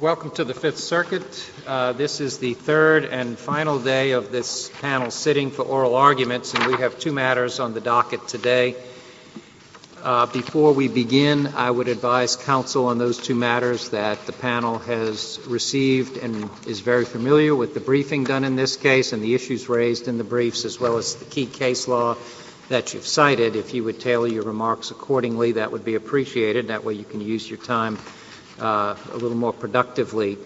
Welcome to the Fifth Circuit. This is the third and final day of this panel sitting for oral arguments, and we have two matters on the docket today. Before we begin, I would advise counsel on those two matters that the panel has received and is very familiar with the briefing done in this case and the issues raised in the briefs, as well as the key case law that you've cited. If you would tailor your remarks accordingly, that would be appreciated. That way you can use your time a little more productively.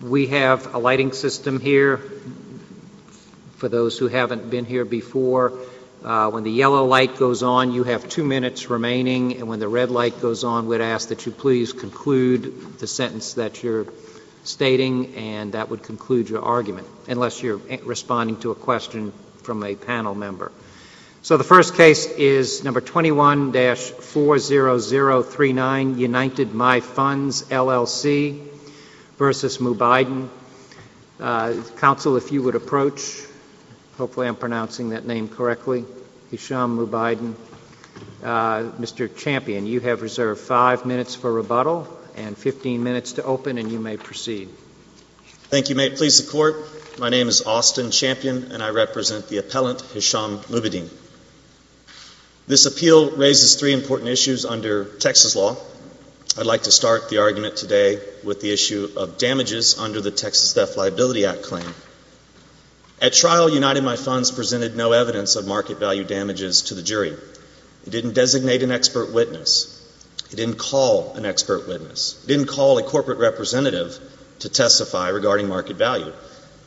We have a lighting system here for those who haven't been here before. When the yellow light goes on, you have two minutes remaining, and when the red light goes on, we'd ask that you please conclude the sentence that you're stating, and that would conclude your argument, unless you're responding to a question from a panel member. So the first case is No. 21-40039, United My Funds, LLC v. Mubaidin. Counsel, if you would approach, hopefully I'm pronouncing that name correctly, Hisham Mubaidin. Mr. Champion, you have reserved five minutes for rebuttal and 15 minutes to open, and you may proceed. Thank you. May it please the Court, my name is Austin Champion, and I represent the appellant Hisham Mubaidin. This appeal raises three important issues under Texas law. I'd like to start the argument today with the issue of damages under the Texas Death Liability Act claim. At trial, United My Funds presented no evidence of market value damages to the witness. It didn't call an expert witness. It didn't call a corporate representative to testify regarding market value.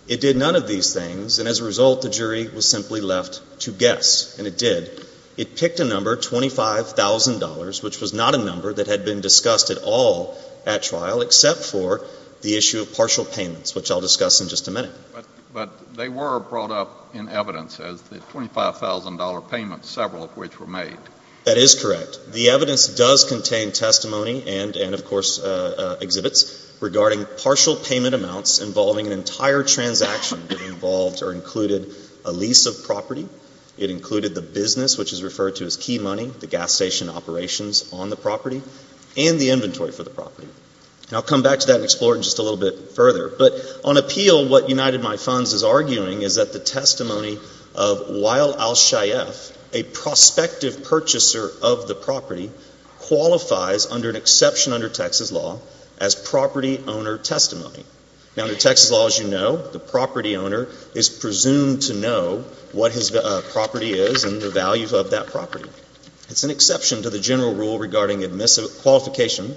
It did none of these things, and as a result, the jury was simply left to guess, and it did. It picked a number, $25,000, which was not a number that had been discussed at all at trial, except for the issue of partial payments, which I'll discuss in just a minute. But they were brought up in evidence as the $25,000 payment, several of which were made. That is correct. The evidence does contain testimony and, of course, exhibits regarding partial payment amounts involving an entire transaction that involved or included a lease of property. It included the business, which is referred to as key money, the gas station operations on the property, and the inventory for the property. And I'll come back to that and explore it in just a little bit further. But on appeal, what United My Funds is arguing is that the testimony of Wael Al-Shayef, a prospective purchaser of the property, qualifies, under an exception under Texas law, as property owner testimony. Now, under Texas law, as you know, the property owner is presumed to know what his property is and the value of that property. It's an exception to the general rule regarding qualification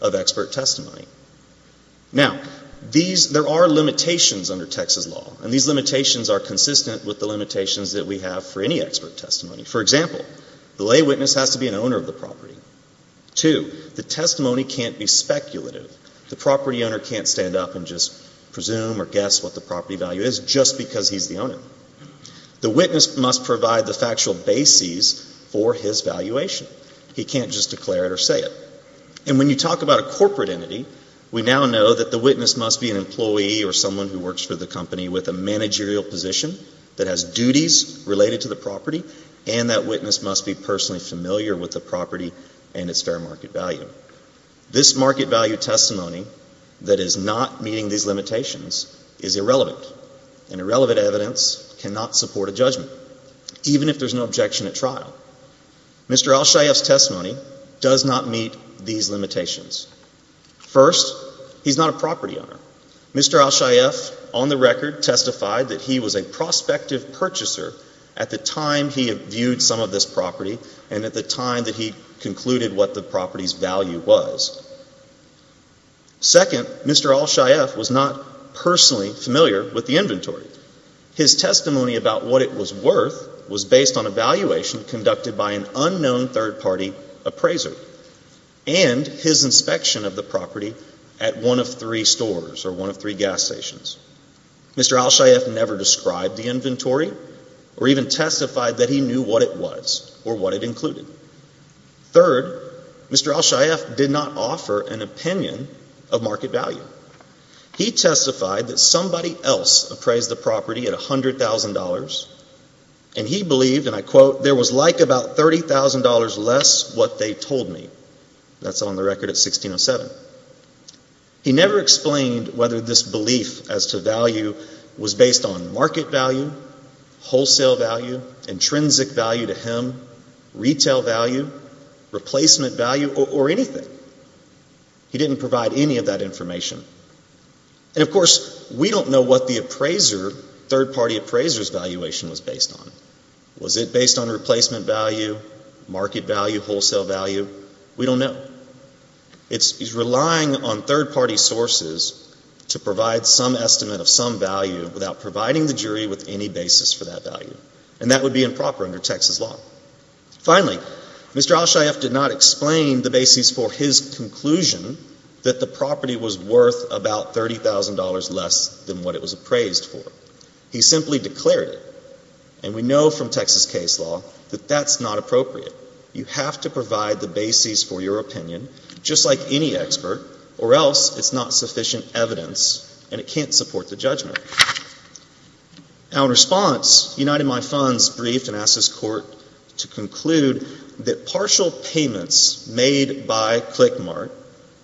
of expert testimony. Now, there are limitations under Texas law, and these limitations are consistent with the limitations that we have for any expert testimony. For example, the lay witness has to be an owner of the property. Two, the testimony can't be speculative. The property owner can't stand up and just presume or guess what the property value is just because he's the owner. The witness must provide the factual basis for his valuation. He can't just declare it or say it. And when you talk about a corporate entity, we now know that the witness must be an employee or someone who works for the company with a managerial position that has duties related to the property, and that witness must be personally familiar with the property and its fair market value. This market value testimony that is not meeting these limitations is irrelevant, and irrelevant evidence cannot support a judgment, even if there's no objection at trial. Mr. Al-Shayef's on the record testified that he was a prospective purchaser at the time he viewed some of this property and at the time that he concluded what the property's value was. Second, Mr. Al-Shayef was not personally familiar with the inventory. His testimony about what it was worth was based on evaluation conducted by an unknown third-party appraiser and his knowledge of one of three gas stations. Mr. Al-Shayef never described the inventory or even testified that he knew what it was or what it included. Third, Mr. Al-Shayef did not offer an opinion of market value. He testified that somebody else appraised the property at $100,000, and he believed, and I quote, there was like about $30,000 less what they told me. That's on the record at 1607. He never explained whether this belief as to value was based on market value, wholesale value, intrinsic value to him, retail value, replacement value, or anything. He didn't provide any of that information. And of course, we don't know what the appraiser, third-party appraiser's valuation was based on. Was it based on replacement value, market value, wholesale value? We don't know. He's relying on third-party sources to provide some estimate of some value without providing the jury with any basis for that value, and that would be improper under Texas law. Finally, Mr. Al-Shayef did not explain the basis for his conclusion that the property was worth about $30,000 less than what it was appraised for. He simply declared it, and we know from Texas case law that that's not appropriate. You have to provide the basis for your opinion, just like any expert, or else it's not sufficient evidence and it can't support the judgment. Now, in response, United My Funds briefed and asked this court to conclude that partial payments made by ClickMart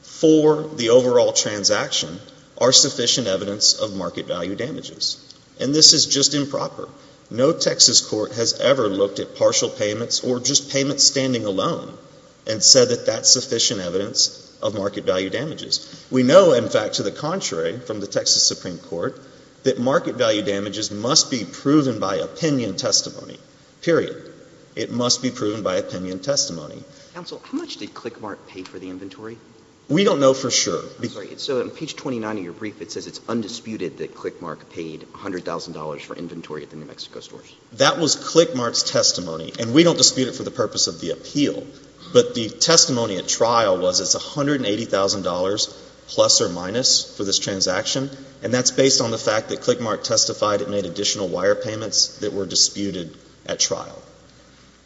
for the overall transaction are sufficient evidence of market value damages. And this is just improper. No Texas court has ever looked at partial payments or just payments standing alone and said that that's sufficient evidence of market value damages. We know, in fact, to the contrary, from the Texas Supreme Court, that market value damages must be proven by opinion testimony, period. It must be proven by opinion testimony. Counsel, how much did ClickMart pay for the inventory? We don't know for sure. So on page 29 of your brief, it says it's undisputed that ClickMart paid $100,000 for inventory at the New Mexico stores. That was ClickMart's testimony, and we don't dispute it for the purpose of the appeal. But the testimony at trial was it's $180,000 plus or minus for this transaction, and that's based on the fact that ClickMart testified it made additional wire payments that were disputed at trial.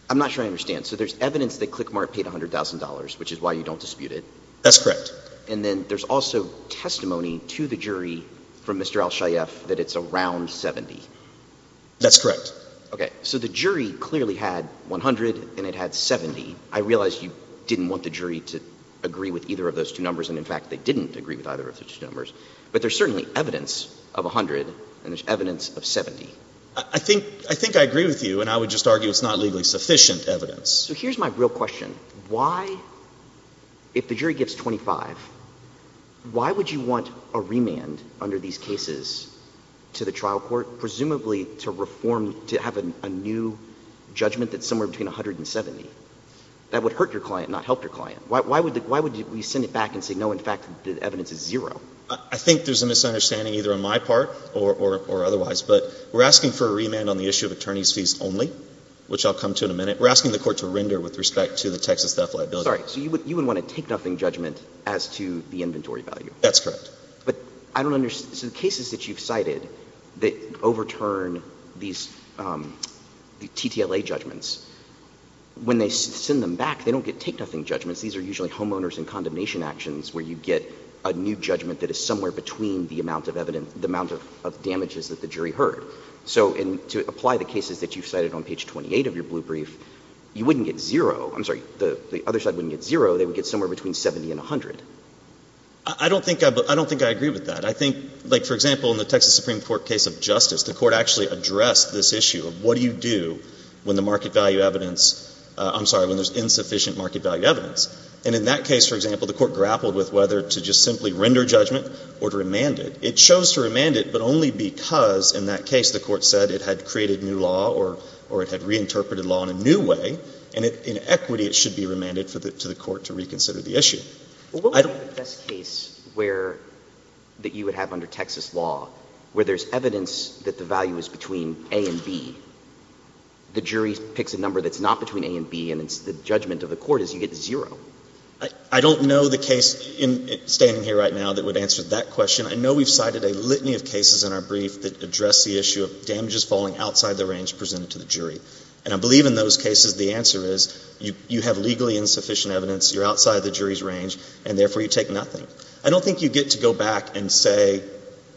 I'm not sure I understand. So there's evidence that ClickMart paid $100,000, which is why you don't dispute it? That's correct. And then there's also testimony to the jury from Mr. Al-Shayef that it's around $70,000. That's correct. Okay. So the jury clearly had $100,000 and it had $70,000. I realize you didn't want the jury to agree with either of those two numbers, and in fact, they didn't agree with either of those two numbers. But there's certainly evidence of $100,000 and there's evidence of $70,000. I think I agree with you, and I would just argue it's not legally sufficient evidence. So here's my real question. Why, if the jury gives $25,000, why would you want a remand under these cases to the trial court, presumably to reform, to have a new judgment that's somewhere between $100,000 and $70,000? That would hurt your client, not help your client. Why would you send it back and say, no, in fact, the evidence is zero? I think there's a misunderstanding either on my part or otherwise, but we're asking for a remand on the issue of attorney's fees only, which I'll come to in a minute. We're asking for a remand to render with respect to the Texas theft liability. Sorry. So you would want a take-nothing judgment as to the inventory value? That's correct. But I don't understand. So the cases that you've cited that overturn these TTLA judgments, when they send them back, they don't get take-nothing judgments. These are usually homeowners and condemnation actions where you get a new judgment that is somewhere between the amount of damages that the jury heard. So to apply the cases that you've cited on page 28 of your blue sheet, the other side wouldn't get zero. They would get somewhere between 70 and 100. I don't think I agree with that. I think, like, for example, in the Texas Supreme Court case of justice, the Court actually addressed this issue of what do you do when the market value evidence — I'm sorry, when there's insufficient market value evidence. And in that case, for example, the Court grappled with whether to just simply render judgment or to remand it. It chose to remand it, but only because in that case the Court said it had created new law or it had reinterpreted law in a new way. And in equity, it should be remanded to the Court to reconsider the issue. Well, what would be the best case where — that you would have under Texas law where there's evidence that the value is between A and B, the jury picks a number that's not between A and B, and the judgment of the Court is you get zero? I don't know the case standing here right now that would answer that question. I know we've cited a litany of cases in our brief that address the issue of damages falling outside the range presented to the jury. And I believe in those cases the answer is you have legally insufficient evidence, you're outside the jury's range, and therefore you take nothing. I don't think you get to go back and say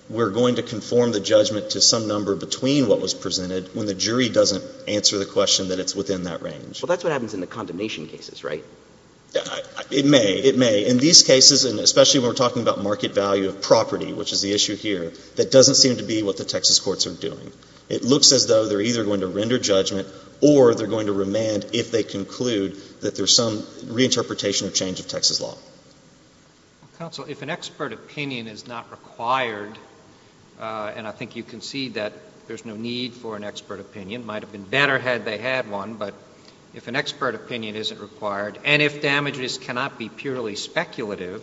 we're going to conform the judgment to some number between what was presented when the jury doesn't answer the question that it's within that range. Well, that's what happens in the condemnation cases, right? It may. It may. In these cases, and especially when we're talking about market value of damages, the issue here, that doesn't seem to be what the Texas courts are doing. It looks as though they're either going to render judgment or they're going to remand if they conclude that there's some reinterpretation or change of Texas law. Counsel, if an expert opinion is not required, and I think you concede that there's no need for an expert opinion, it might have been better had they had one, but if an expert opinion isn't required, and if damages cannot be purely speculative,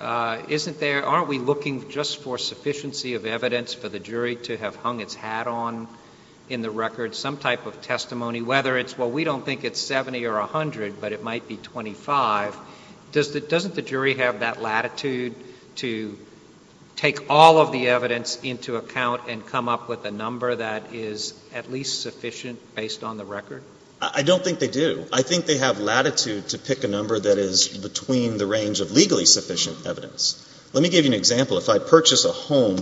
isn't there — aren't we looking just for sufficiency of evidence for the jury to have hung its hat on in the record, some type of testimony, whether it's — well, we don't think it's 70 or 100, but it might be 25. Doesn't the jury have that latitude to take all of the evidence into account and come up with a number that is at least sufficient based on the record? I don't think they do. I think they have latitude to pick a number that is between the range of legally sufficient evidence. Let me give you an example. If I purchase a home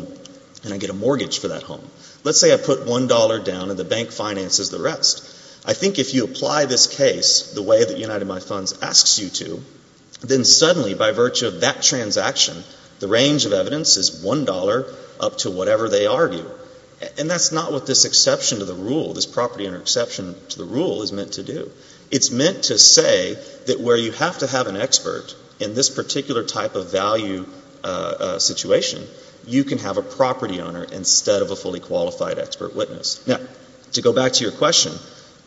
and I get a mortgage for that home, let's say I put $1 down and the bank finances the rest. I think if you apply this case the way that United My Funds asks you to, then suddenly by virtue of that transaction, the range of evidence is $1 up to whatever they argue. And that's not what this exception to the rule, this property interception to the rule is meant to do. It's meant to say that where you have to have an expert in this particular type of value situation, you can have a property owner instead of a fully qualified expert witness. Now, to go back to your question,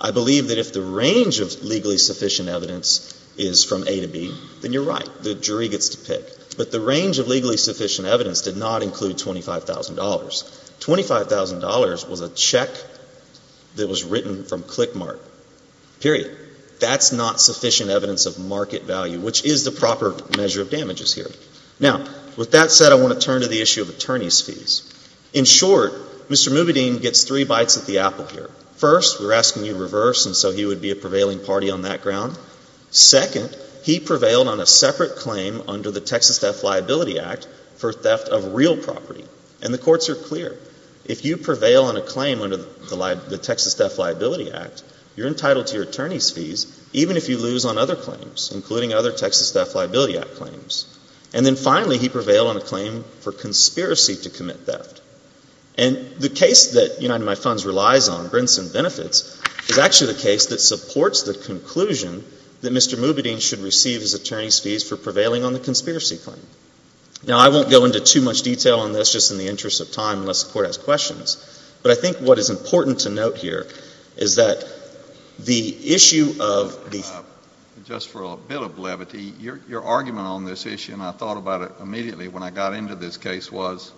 I believe that if the range of legally sufficient evidence is from A to B, then you're right. The jury gets to pick. But the range of legally sufficient evidence did not include $25,000. $25,000 was a check that was written from click marks to the floor. Period. That's not sufficient evidence of market value, which is the proper measure of damages here. Now, with that said, I want to turn to the issue of attorney's fees. In short, Mr. Mubedin gets three bites at the apple here. First, we're asking you to reverse, and so he would be a prevailing party on that ground. Second, he prevailed on a separate claim under the Texas Theft Liability Act for theft of real property. And the courts are clear. If you are entitled to your attorney's fees, even if you lose on other claims, including other Texas Theft Liability Act claims. And then finally, he prevailed on a claim for conspiracy to commit theft. And the case that United My Funds relies on, Brinson Benefits, is actually the case that supports the conclusion that Mr. Mubedin should receive his attorney's fees for prevailing on the conspiracy claim. Now, I won't go into too much detail on this, just in the interest of time, unless the Court has questions. But I think what is important to note here is that the issue of the... Just for a bit of brevity, your argument on this issue, and I thought about it immediately when I got into this case, was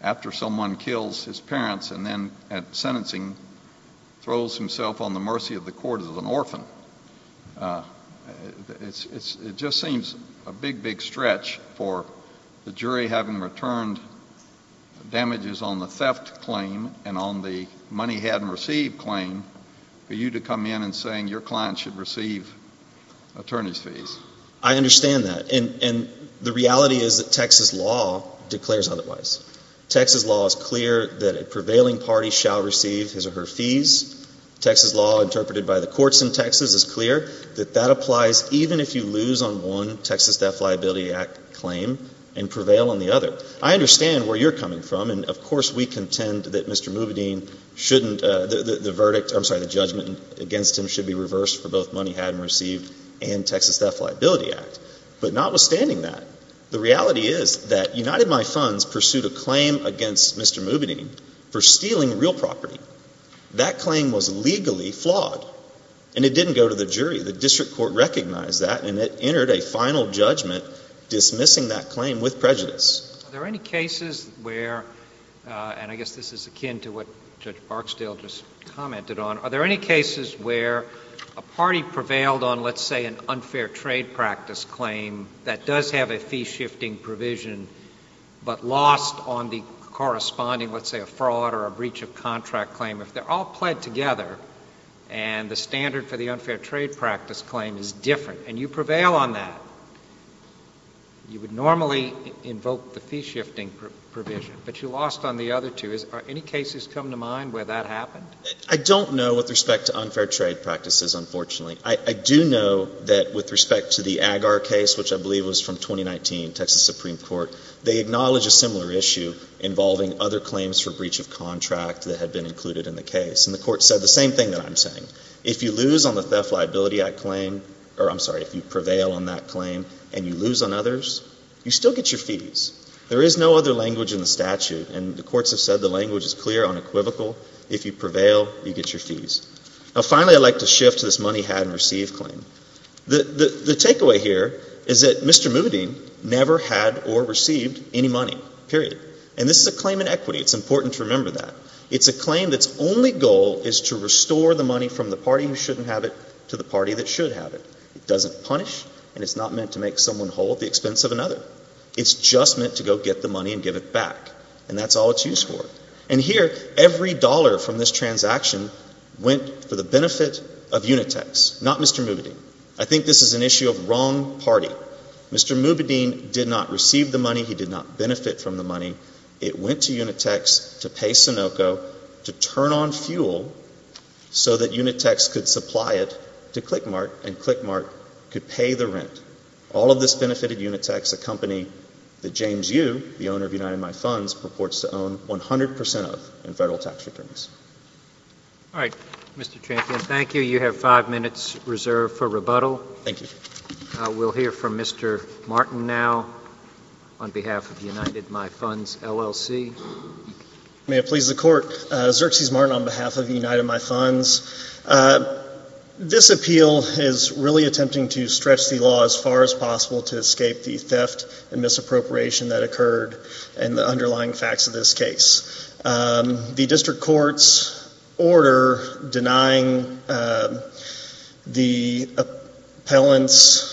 after someone kills his parents and then at sentencing throws himself on the mercy of the court as an orphan. It just seems a big, big stretch for the jury having returned damages on the theft claim and on the money-hadn't-received claim for you to come in and saying your client should receive attorney's fees. I understand that. And the reality is that Texas law declares otherwise. Texas law is clear that a prevailing party shall receive his or her fees. Texas law, interpreted by the courts in Texas, is clear that that applies even if you lose on one Texas Theft Liability Act claim and prevail on the other. I understand where you're coming from. And, of course, we contend that Mr. Mubedin shouldn't, the verdict, I'm sorry, the judgment against him should be reversed for both money-hadn't-received and Texas Theft Liability Act. But notwithstanding that, the reality is that United My Funds pursued a claim against Mr. Mubedin for stealing real property. That claim was legally flawed. And it didn't go to the jury. The district court recognized that, and it entered a final judgment dismissing that claim with prejudice. Are there any cases where, and I guess this is akin to what Judge Barksdale just commented on, are there any cases where a party prevailed on, let's say, an unfair trade practice claim that does have a fee-shifting provision but lost on the corresponding, let's say, a fraud or a breach of contract claim, if they're all pled together and the standard for the claim is different, and you prevail on that, you would normally invoke the fee-shifting provision. But you lost on the other two. Are any cases come to mind where that happened? I don't know with respect to unfair trade practices, unfortunately. I do know that with respect to the Agar case, which I believe was from 2019, Texas Supreme Court, they acknowledge a similar issue involving other claims for breach of contract that had been included in the case. And the Court said the same thing that I'm saying. If you lose on the theft liability, I claim, or I'm sorry, if you prevail on that claim and you lose on others, you still get your fees. There is no other language in the statute, and the courts have said the language is clear, unequivocal. If you prevail, you get your fees. Now, finally, I'd like to shift to this money had and received claim. The takeaway here is that Mr. Moody never had or received any money, period. And this is a claim in equity. It's important to remember that. It's a claim that's only goal is to restore the money from the party who shouldn't have it to the party that should have it. It doesn't punish, and it's not meant to make someone whole at the expense of another. It's just meant to go get the money and give it back. And that's all it's used for. And here, every dollar from this transaction went for the benefit of Unitex, not Mr. Moody. I think this is an issue of wrong party. Mr. Moody did not receive the money. He did not Unitex could pay the rent. All of this benefited Unitex, a company that James Yu, the owner of United My Funds, purports to own 100 percent of in Federal tax returns. All right. Mr. Champion, thank you. You have five minutes reserved for rebuttal. Thank you. We'll hear from Mr. Martin now on behalf of United My Funds, LLC. May it please the Court. Xerxes Martin on behalf of United My Funds. This appeal is really attempting to stretch the law as far as possible to escape the theft and misappropriation that occurred and the underlying facts of this case. The district court's order denying the appellant's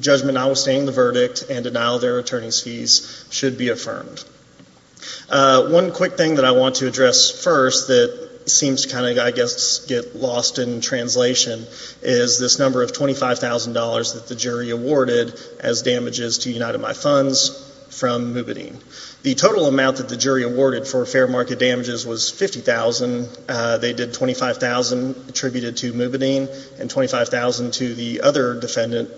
judgment notwithstanding the verdict and denial of their attorney's fees should be affirmed. One quick thing that I want to address first that seems to kind of, I guess, get lost in translation is this number of $25,000 that the jury awarded as damages to United My Funds from Moobideen. The total amount that the jury awarded for fair market damages was $50,000. They did $25,000 attributed to Moobideen and $25,000 to the other defendant,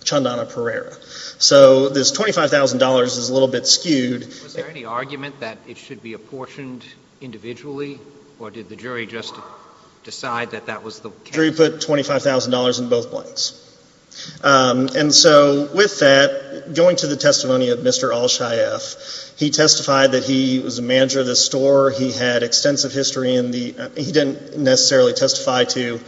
Chandana Pereira. So this $25,000 is a little bit skewed. Was there any argument that it should be apportioned individually or did the jury just decide that that was the case? The jury put $25,000 in both blanks. And so with that, going to the testimony of Mr. Al-Shayef, he testified that he was a manager of this store. He had extensive history in the, he didn't necessarily testify to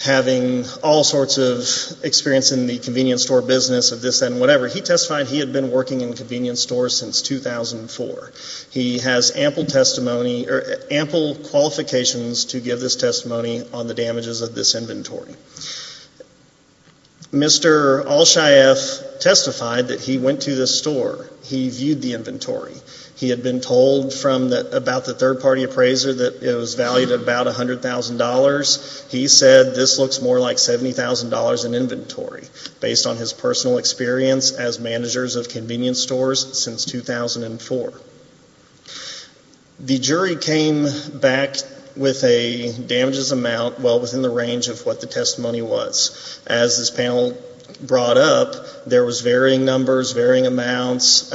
having all sorts of experience in the convenience store business of this and whatever. He testified he had been working in convenience stores since 2004. He has ample testimony, or ample qualifications to give this testimony on the damages of this inventory. Mr. Al-Shayef testified that he went to this store. He viewed the inventory. He had been told from about the third-party appraiser that it was valued at about $100,000. He said this looks more like $70,000 in inventory, based on his personal experience as managers of convenience stores since 2004. The jury came back with a damages amount well within the range of what the testimony was. As this panel brought up, there was varying numbers, varying amounts,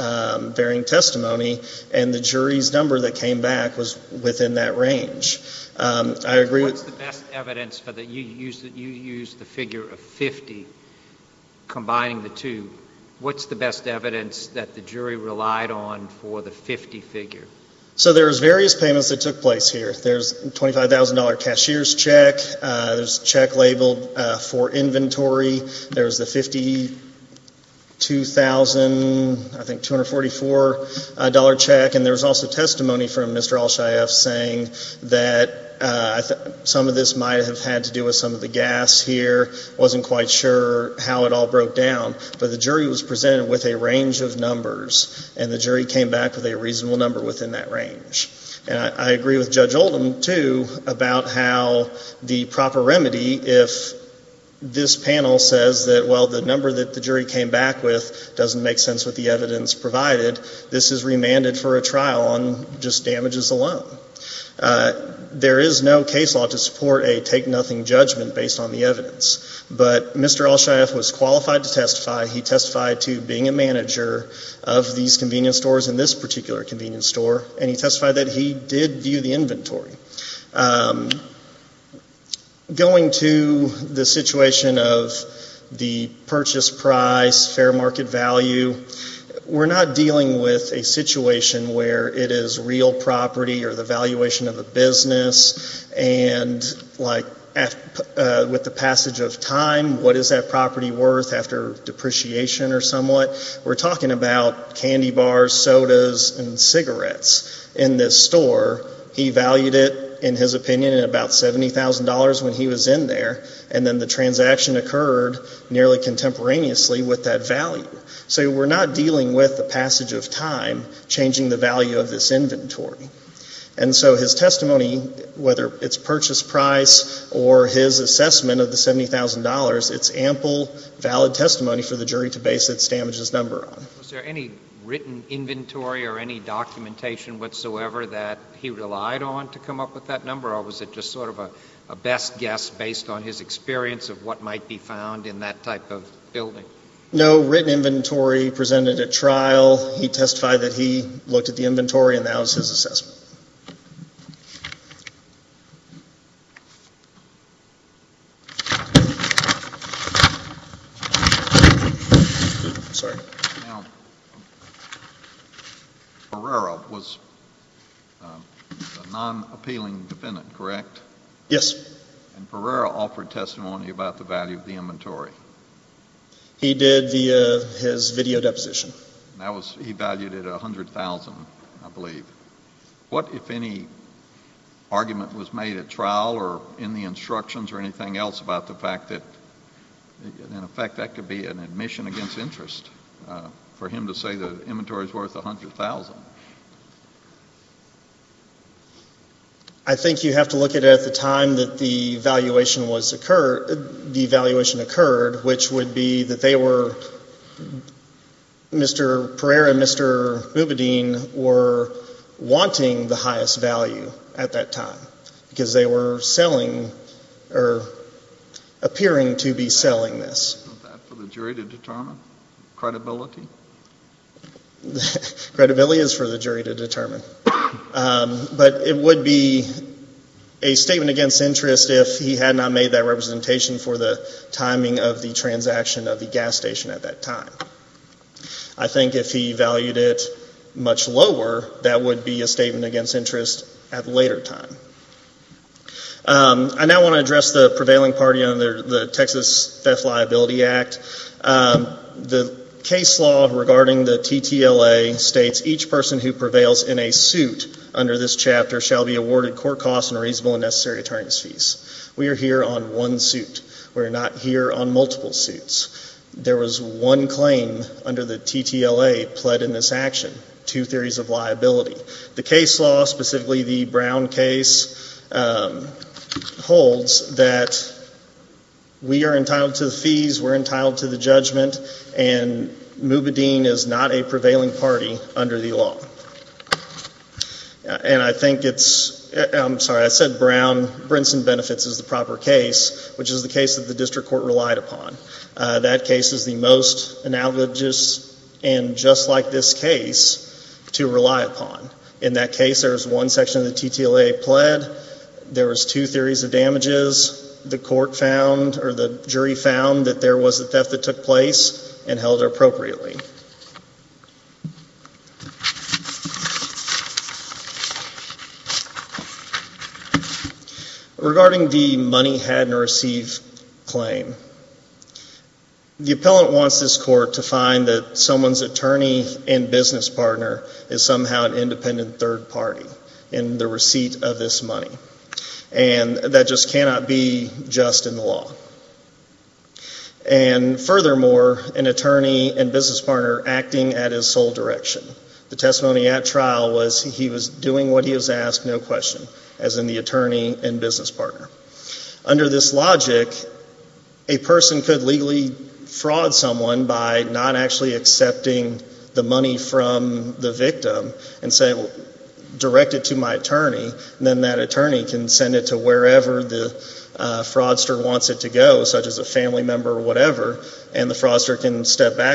varying testimony, and the jury's number that came back was within that range. What's the best evidence, you used the figure of 50, combining the two. What's the best evidence that the jury relied on for the 50 figure? So there's various payments that took place here. There's a $25,000 cashier's check. There's a check labeled for inventory. There's the $52,000, I think $244 cashier's check. There's also testimony from Mr. Al-Shayef saying that some of this might have had to do with some of the gas here. I wasn't quite sure how it all broke down, but the jury was presented with a range of numbers, and the jury came back with a reasonable number within that range. I agree with Judge Oldham, too, about how the proper remedy, if this panel says that while the number that the jury came back with doesn't make sense with the evidence provided, this is remanded for a trial on just damages alone. There is no case law to support a take-nothing judgment based on the evidence, but Mr. Al-Shayef was qualified to testify. He testified to being a manager of these convenience stores and this particular convenience store, and he testified that he did view the inventory. Going to the situation of the purchase price, fair market value, we're not dealing with a situation where it is real property or the valuation of a business, and with the passage of time, what is that property worth after depreciation or somewhat? We're talking about candy bars, sodas, and cigarettes in this store. He valued it, in his opinion, at about $70,000 when he was in there, and then the transaction occurred nearly contemporaneously with that value. So we're not dealing with the passage of time changing the value of this inventory. And so his testimony, whether it's purchase price or his assessment of the $70,000, it's ample, valid testimony for the jury to base its damages number on. Was there any written inventory or any documentation whatsoever that he relied on to come up with that number, or was it just sort of a best guess based on his experience of what might be found in that type of building? No written inventory. He presented at trial. He testified that he looked at the inventory, and that was his assessment. Now, Pereira was a non-appealing defendant, correct? Yes. And Pereira offered testimony about the value of the inventory. He did via his video deposition. He valued it at $100,000, I believe. What if any argument was made at trial or in the instructions or anything else about the fact that, in effect, that could be an admission against interest for him to say the inventory is worth $100,000? I think you have to look at it at the time that the valuation occurred, which would be that they were, Mr. Pereira and Mr. Mubedin, were wanting the highest value at that time because they were selling or appearing to be selling this. Was that for the jury to determine? Credibility? Credibility is for the jury to determine. But it would be a statement against interest if he had not made that representation for the timing of the transaction of the gas station at that time. I think if he valued it much lower, that would be a statement against interest at a later time. I now want to address the prevailing party on the Texas Theft Liability Act. The case law regarding the TTLA states each person who prevails in a suit under this chapter shall be awarded court costs and reasonable and necessary attorney's fees. We are here on one suit. We are not here on multiple suits. There was one claim under the TTLA pled in this action, two theories of liability. The case law, specifically the Brown case, holds that we are entitled to the fees, we're entitled to the judgment, and Mubedin is not a prevailing party under the law. And I think it's, I'm sorry, I said Brown, Brinson Benefits is the proper case, which is the case that the district court relied upon. That case is the most analogous and just like this case to rely upon. In that case, there was one section of the TTLA pled, there was two theories of damages, the court found or the jury found that there was a theft that took place and held it appropriately. Regarding the money had and received claim, the appellant wants this court to find that someone's attorney and business partner is somehow an independent third party in the receipt of this money. And that just cannot be just in the law. And furthermore, an attorney and business partner acting at his sole direction. The testimony at trial was he was doing what he was asked, no question, as in the attorney and business partner. Under this logic, a person could legally fraud someone by not actually accepting the money from the victim and say, direct it to my attorney, and then that attorney can send it to wherever the money is, and I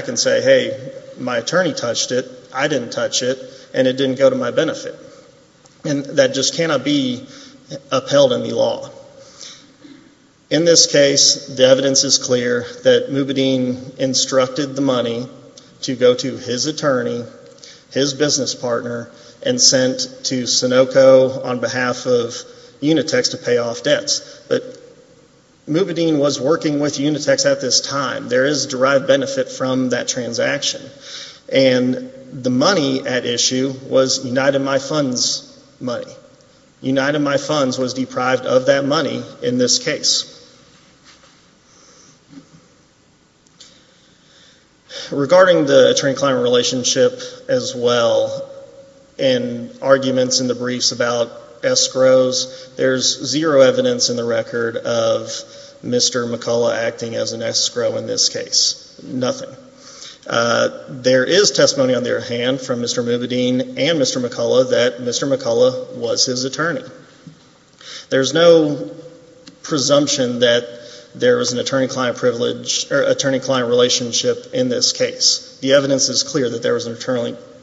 can say, hey, my attorney touched it, I didn't touch it, and it didn't go to my benefit. And that just cannot be upheld in the law. In this case, the evidence is clear that Mubedin instructed the money to go to his attorney, his business partner, and sent to Sunoco on behalf of Unitex to pay off debts. But Mubedin was working with that transaction. And the money at issue was United My Funds money. United My Funds was deprived of that money in this case. Regarding the attorney-client relationship as well, and arguments in the briefs about escrows, there's zero evidence in the record of Mr. McCullough acting as an escrow in this case. Nothing. There is testimony on their hand from Mr. Mubedin and Mr. McCullough that Mr. McCullough was his attorney. There's no presumption that there was an attorney-client relationship in this case. The evidence is clear that there was an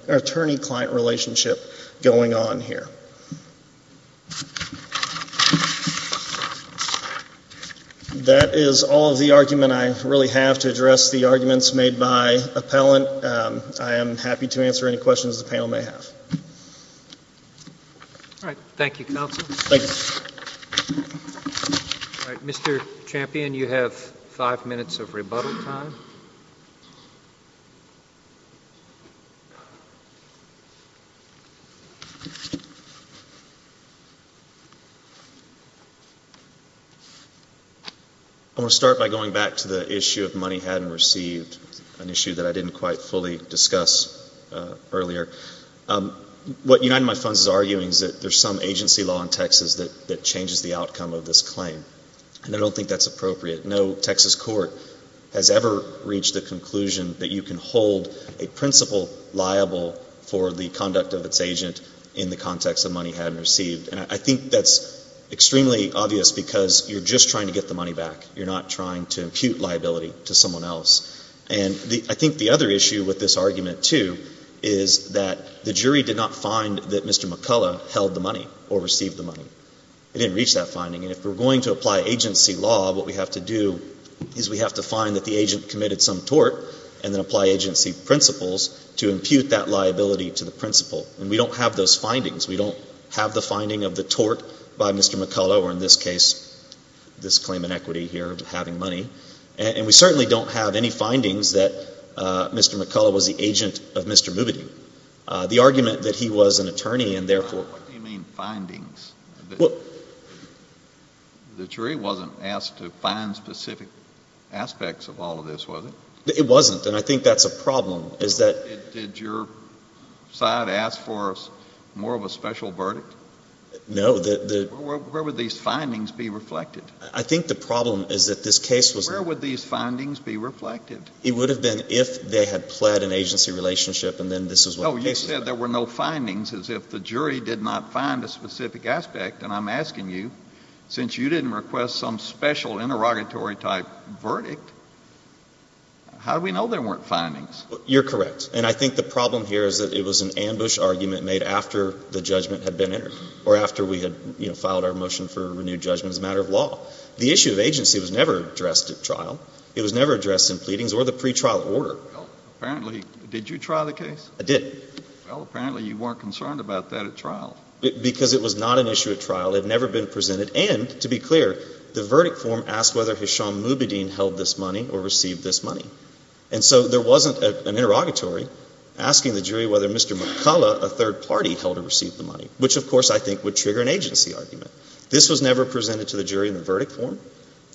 attorney-client relationship going on here. That is all of the argument. I really have to address the arguments made by appellant. I am happy to answer any questions the panel may have. Thank you, counsel. Mr. Champion, you have five minutes of rebuttal time. I want to start by going back to the issue of money had and received, an issue that I didn't quite fully discuss earlier. What United My Funds is arguing is that there's some agency law in Texas that changes the outcome of this claim. And I don't think that's appropriate. No Texas court has ever reached the conclusion that you can hold a principal liable for the money had and received. And I think that's extremely obvious because you're just trying to get the money back. You're not trying to impute liability to someone else. And I think the other issue with this argument, too, is that the jury did not find that Mr. McCullough held the money or received the money. It didn't reach that finding. And if we're going to apply agency law, what we have to do is we have to find that the agent committed some tort and then apply agency principles to impute that liability to the principal. And we don't have those findings. We don't have the finding of the tort by Mr. McCullough or in this case, this claim in equity here of having money. And we certainly don't have any findings that Mr. McCullough was the agent of Mr. Moobity. The argument that he was an attorney and therefore What do you mean findings? The jury wasn't asked to find specific aspects of all of this, was it? It wasn't. And I think that's a problem is that Did your side ask for more of a special verdict? No. Where would these findings be reflected? I think the problem is that this case was Where would these findings be reflected? It would have been if they had pled an agency relationship and then this is what the case was. You said there were no findings as if the jury did not find a specific aspect. And I'm asking you, since you didn't request some special interrogatory type verdict, how do we know there weren't findings? You're correct. And I think the problem here is that it was an ambush argument made after the judgment had been entered or after we had, you know, filed our motion for renewed judgment as a matter of law. The issue of agency was never addressed at trial. It was never addressed in pleadings or the pretrial order. Well, apparently, did you try the case? I did. Well, apparently you weren't concerned about that at trial. Because it was not an issue at trial. It had never been presented. And to be clear, the verdict form asked whether Hisham Moobideen held this money or received this money. And so there wasn't an interrogatory asking the jury whether Mr. McCullough, a third party, held or received the money, which, of course, I think would trigger an agency argument. This was never presented to the jury in the verdict form.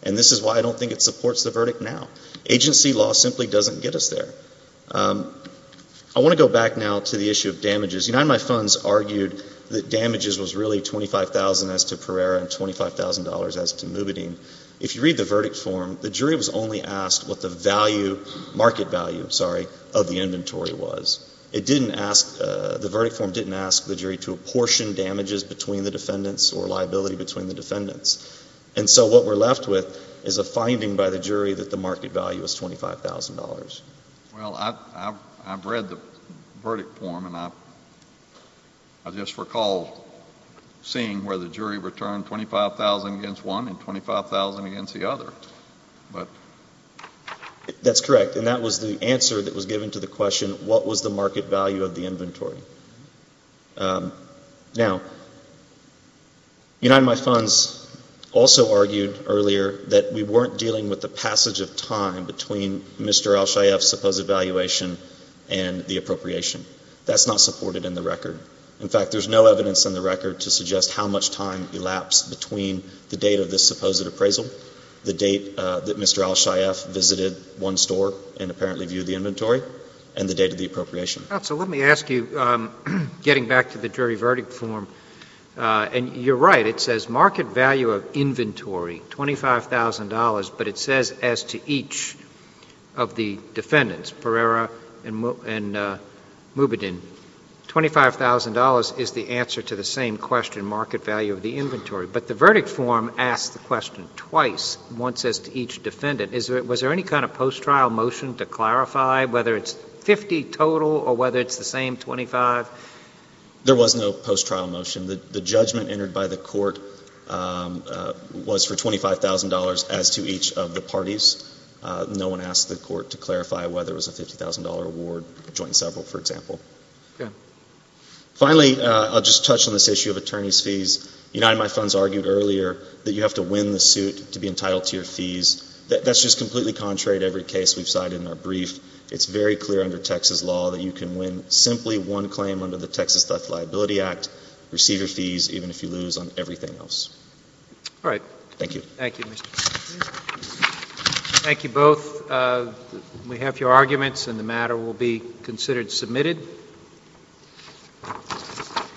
And this is why I don't think it supports the verdict now. Agency law simply doesn't get us there. I want to go back now to the issue of damages. United My Funds argued that damages was really $25,000 as to Pereira and $25,000 as to Moobideen. If you read the verdict form, the jury was only asked what the value, market value, I'm sorry, of the inventory was. It didn't ask, the verdict form didn't ask the jury to apportion damages between the defendants or liability between the defendants. And so what we're left with is a finding by the jury that the market value is $25,000. Well, I've read the verdict form, and I just recall seeing where the jury returned $25,000 against one and $25,000 against the other. That's correct. And that was the answer that was given to the question, what was the market value of the inventory? Now, United My Funds also argued earlier that we weren't dealing with the passage of time between Mr. Alshayef's supposed evaluation and the appropriation. That's not supported in the record. In fact, there's no evidence in the record to suggest how much time elapsed between the date of this supposed appraisal, the date that Mr. Alshayef visited one store and apparently viewed the inventory, and the date of the appropriation. Counsel, let me ask you, getting back to the jury verdict form, and you're right, it says market value of inventory, $25,000, but it says as to each of the defendants, Pereira and Moubidin, $25,000 is the answer to the same question, market value of the inventory. But the verdict form asks the question twice, once as to each defendant. Was there any kind of post-trial motion to clarify whether it's 50 total or whether it's the same 25? There was no post-trial motion. The judgment entered by the court was for $25,000 as to each of the parties. No one asked the court to clarify whether it was a $50,000 award, joint and several, for example. Finally, I'll just touch on this issue of attorney's fees. United MyFunds argued earlier that you have to win the suit to be entitled to your fees. That's just completely contrary to every case we've cited in our brief. It's very clear under Texas law that you can win simply one claim under the Texas Theft Liability Act, receive your fees even if you lose on everything else. All right. Thank you. Thank you. Thank you both. We have your arguments and the matter will be considered submitted. Thank you.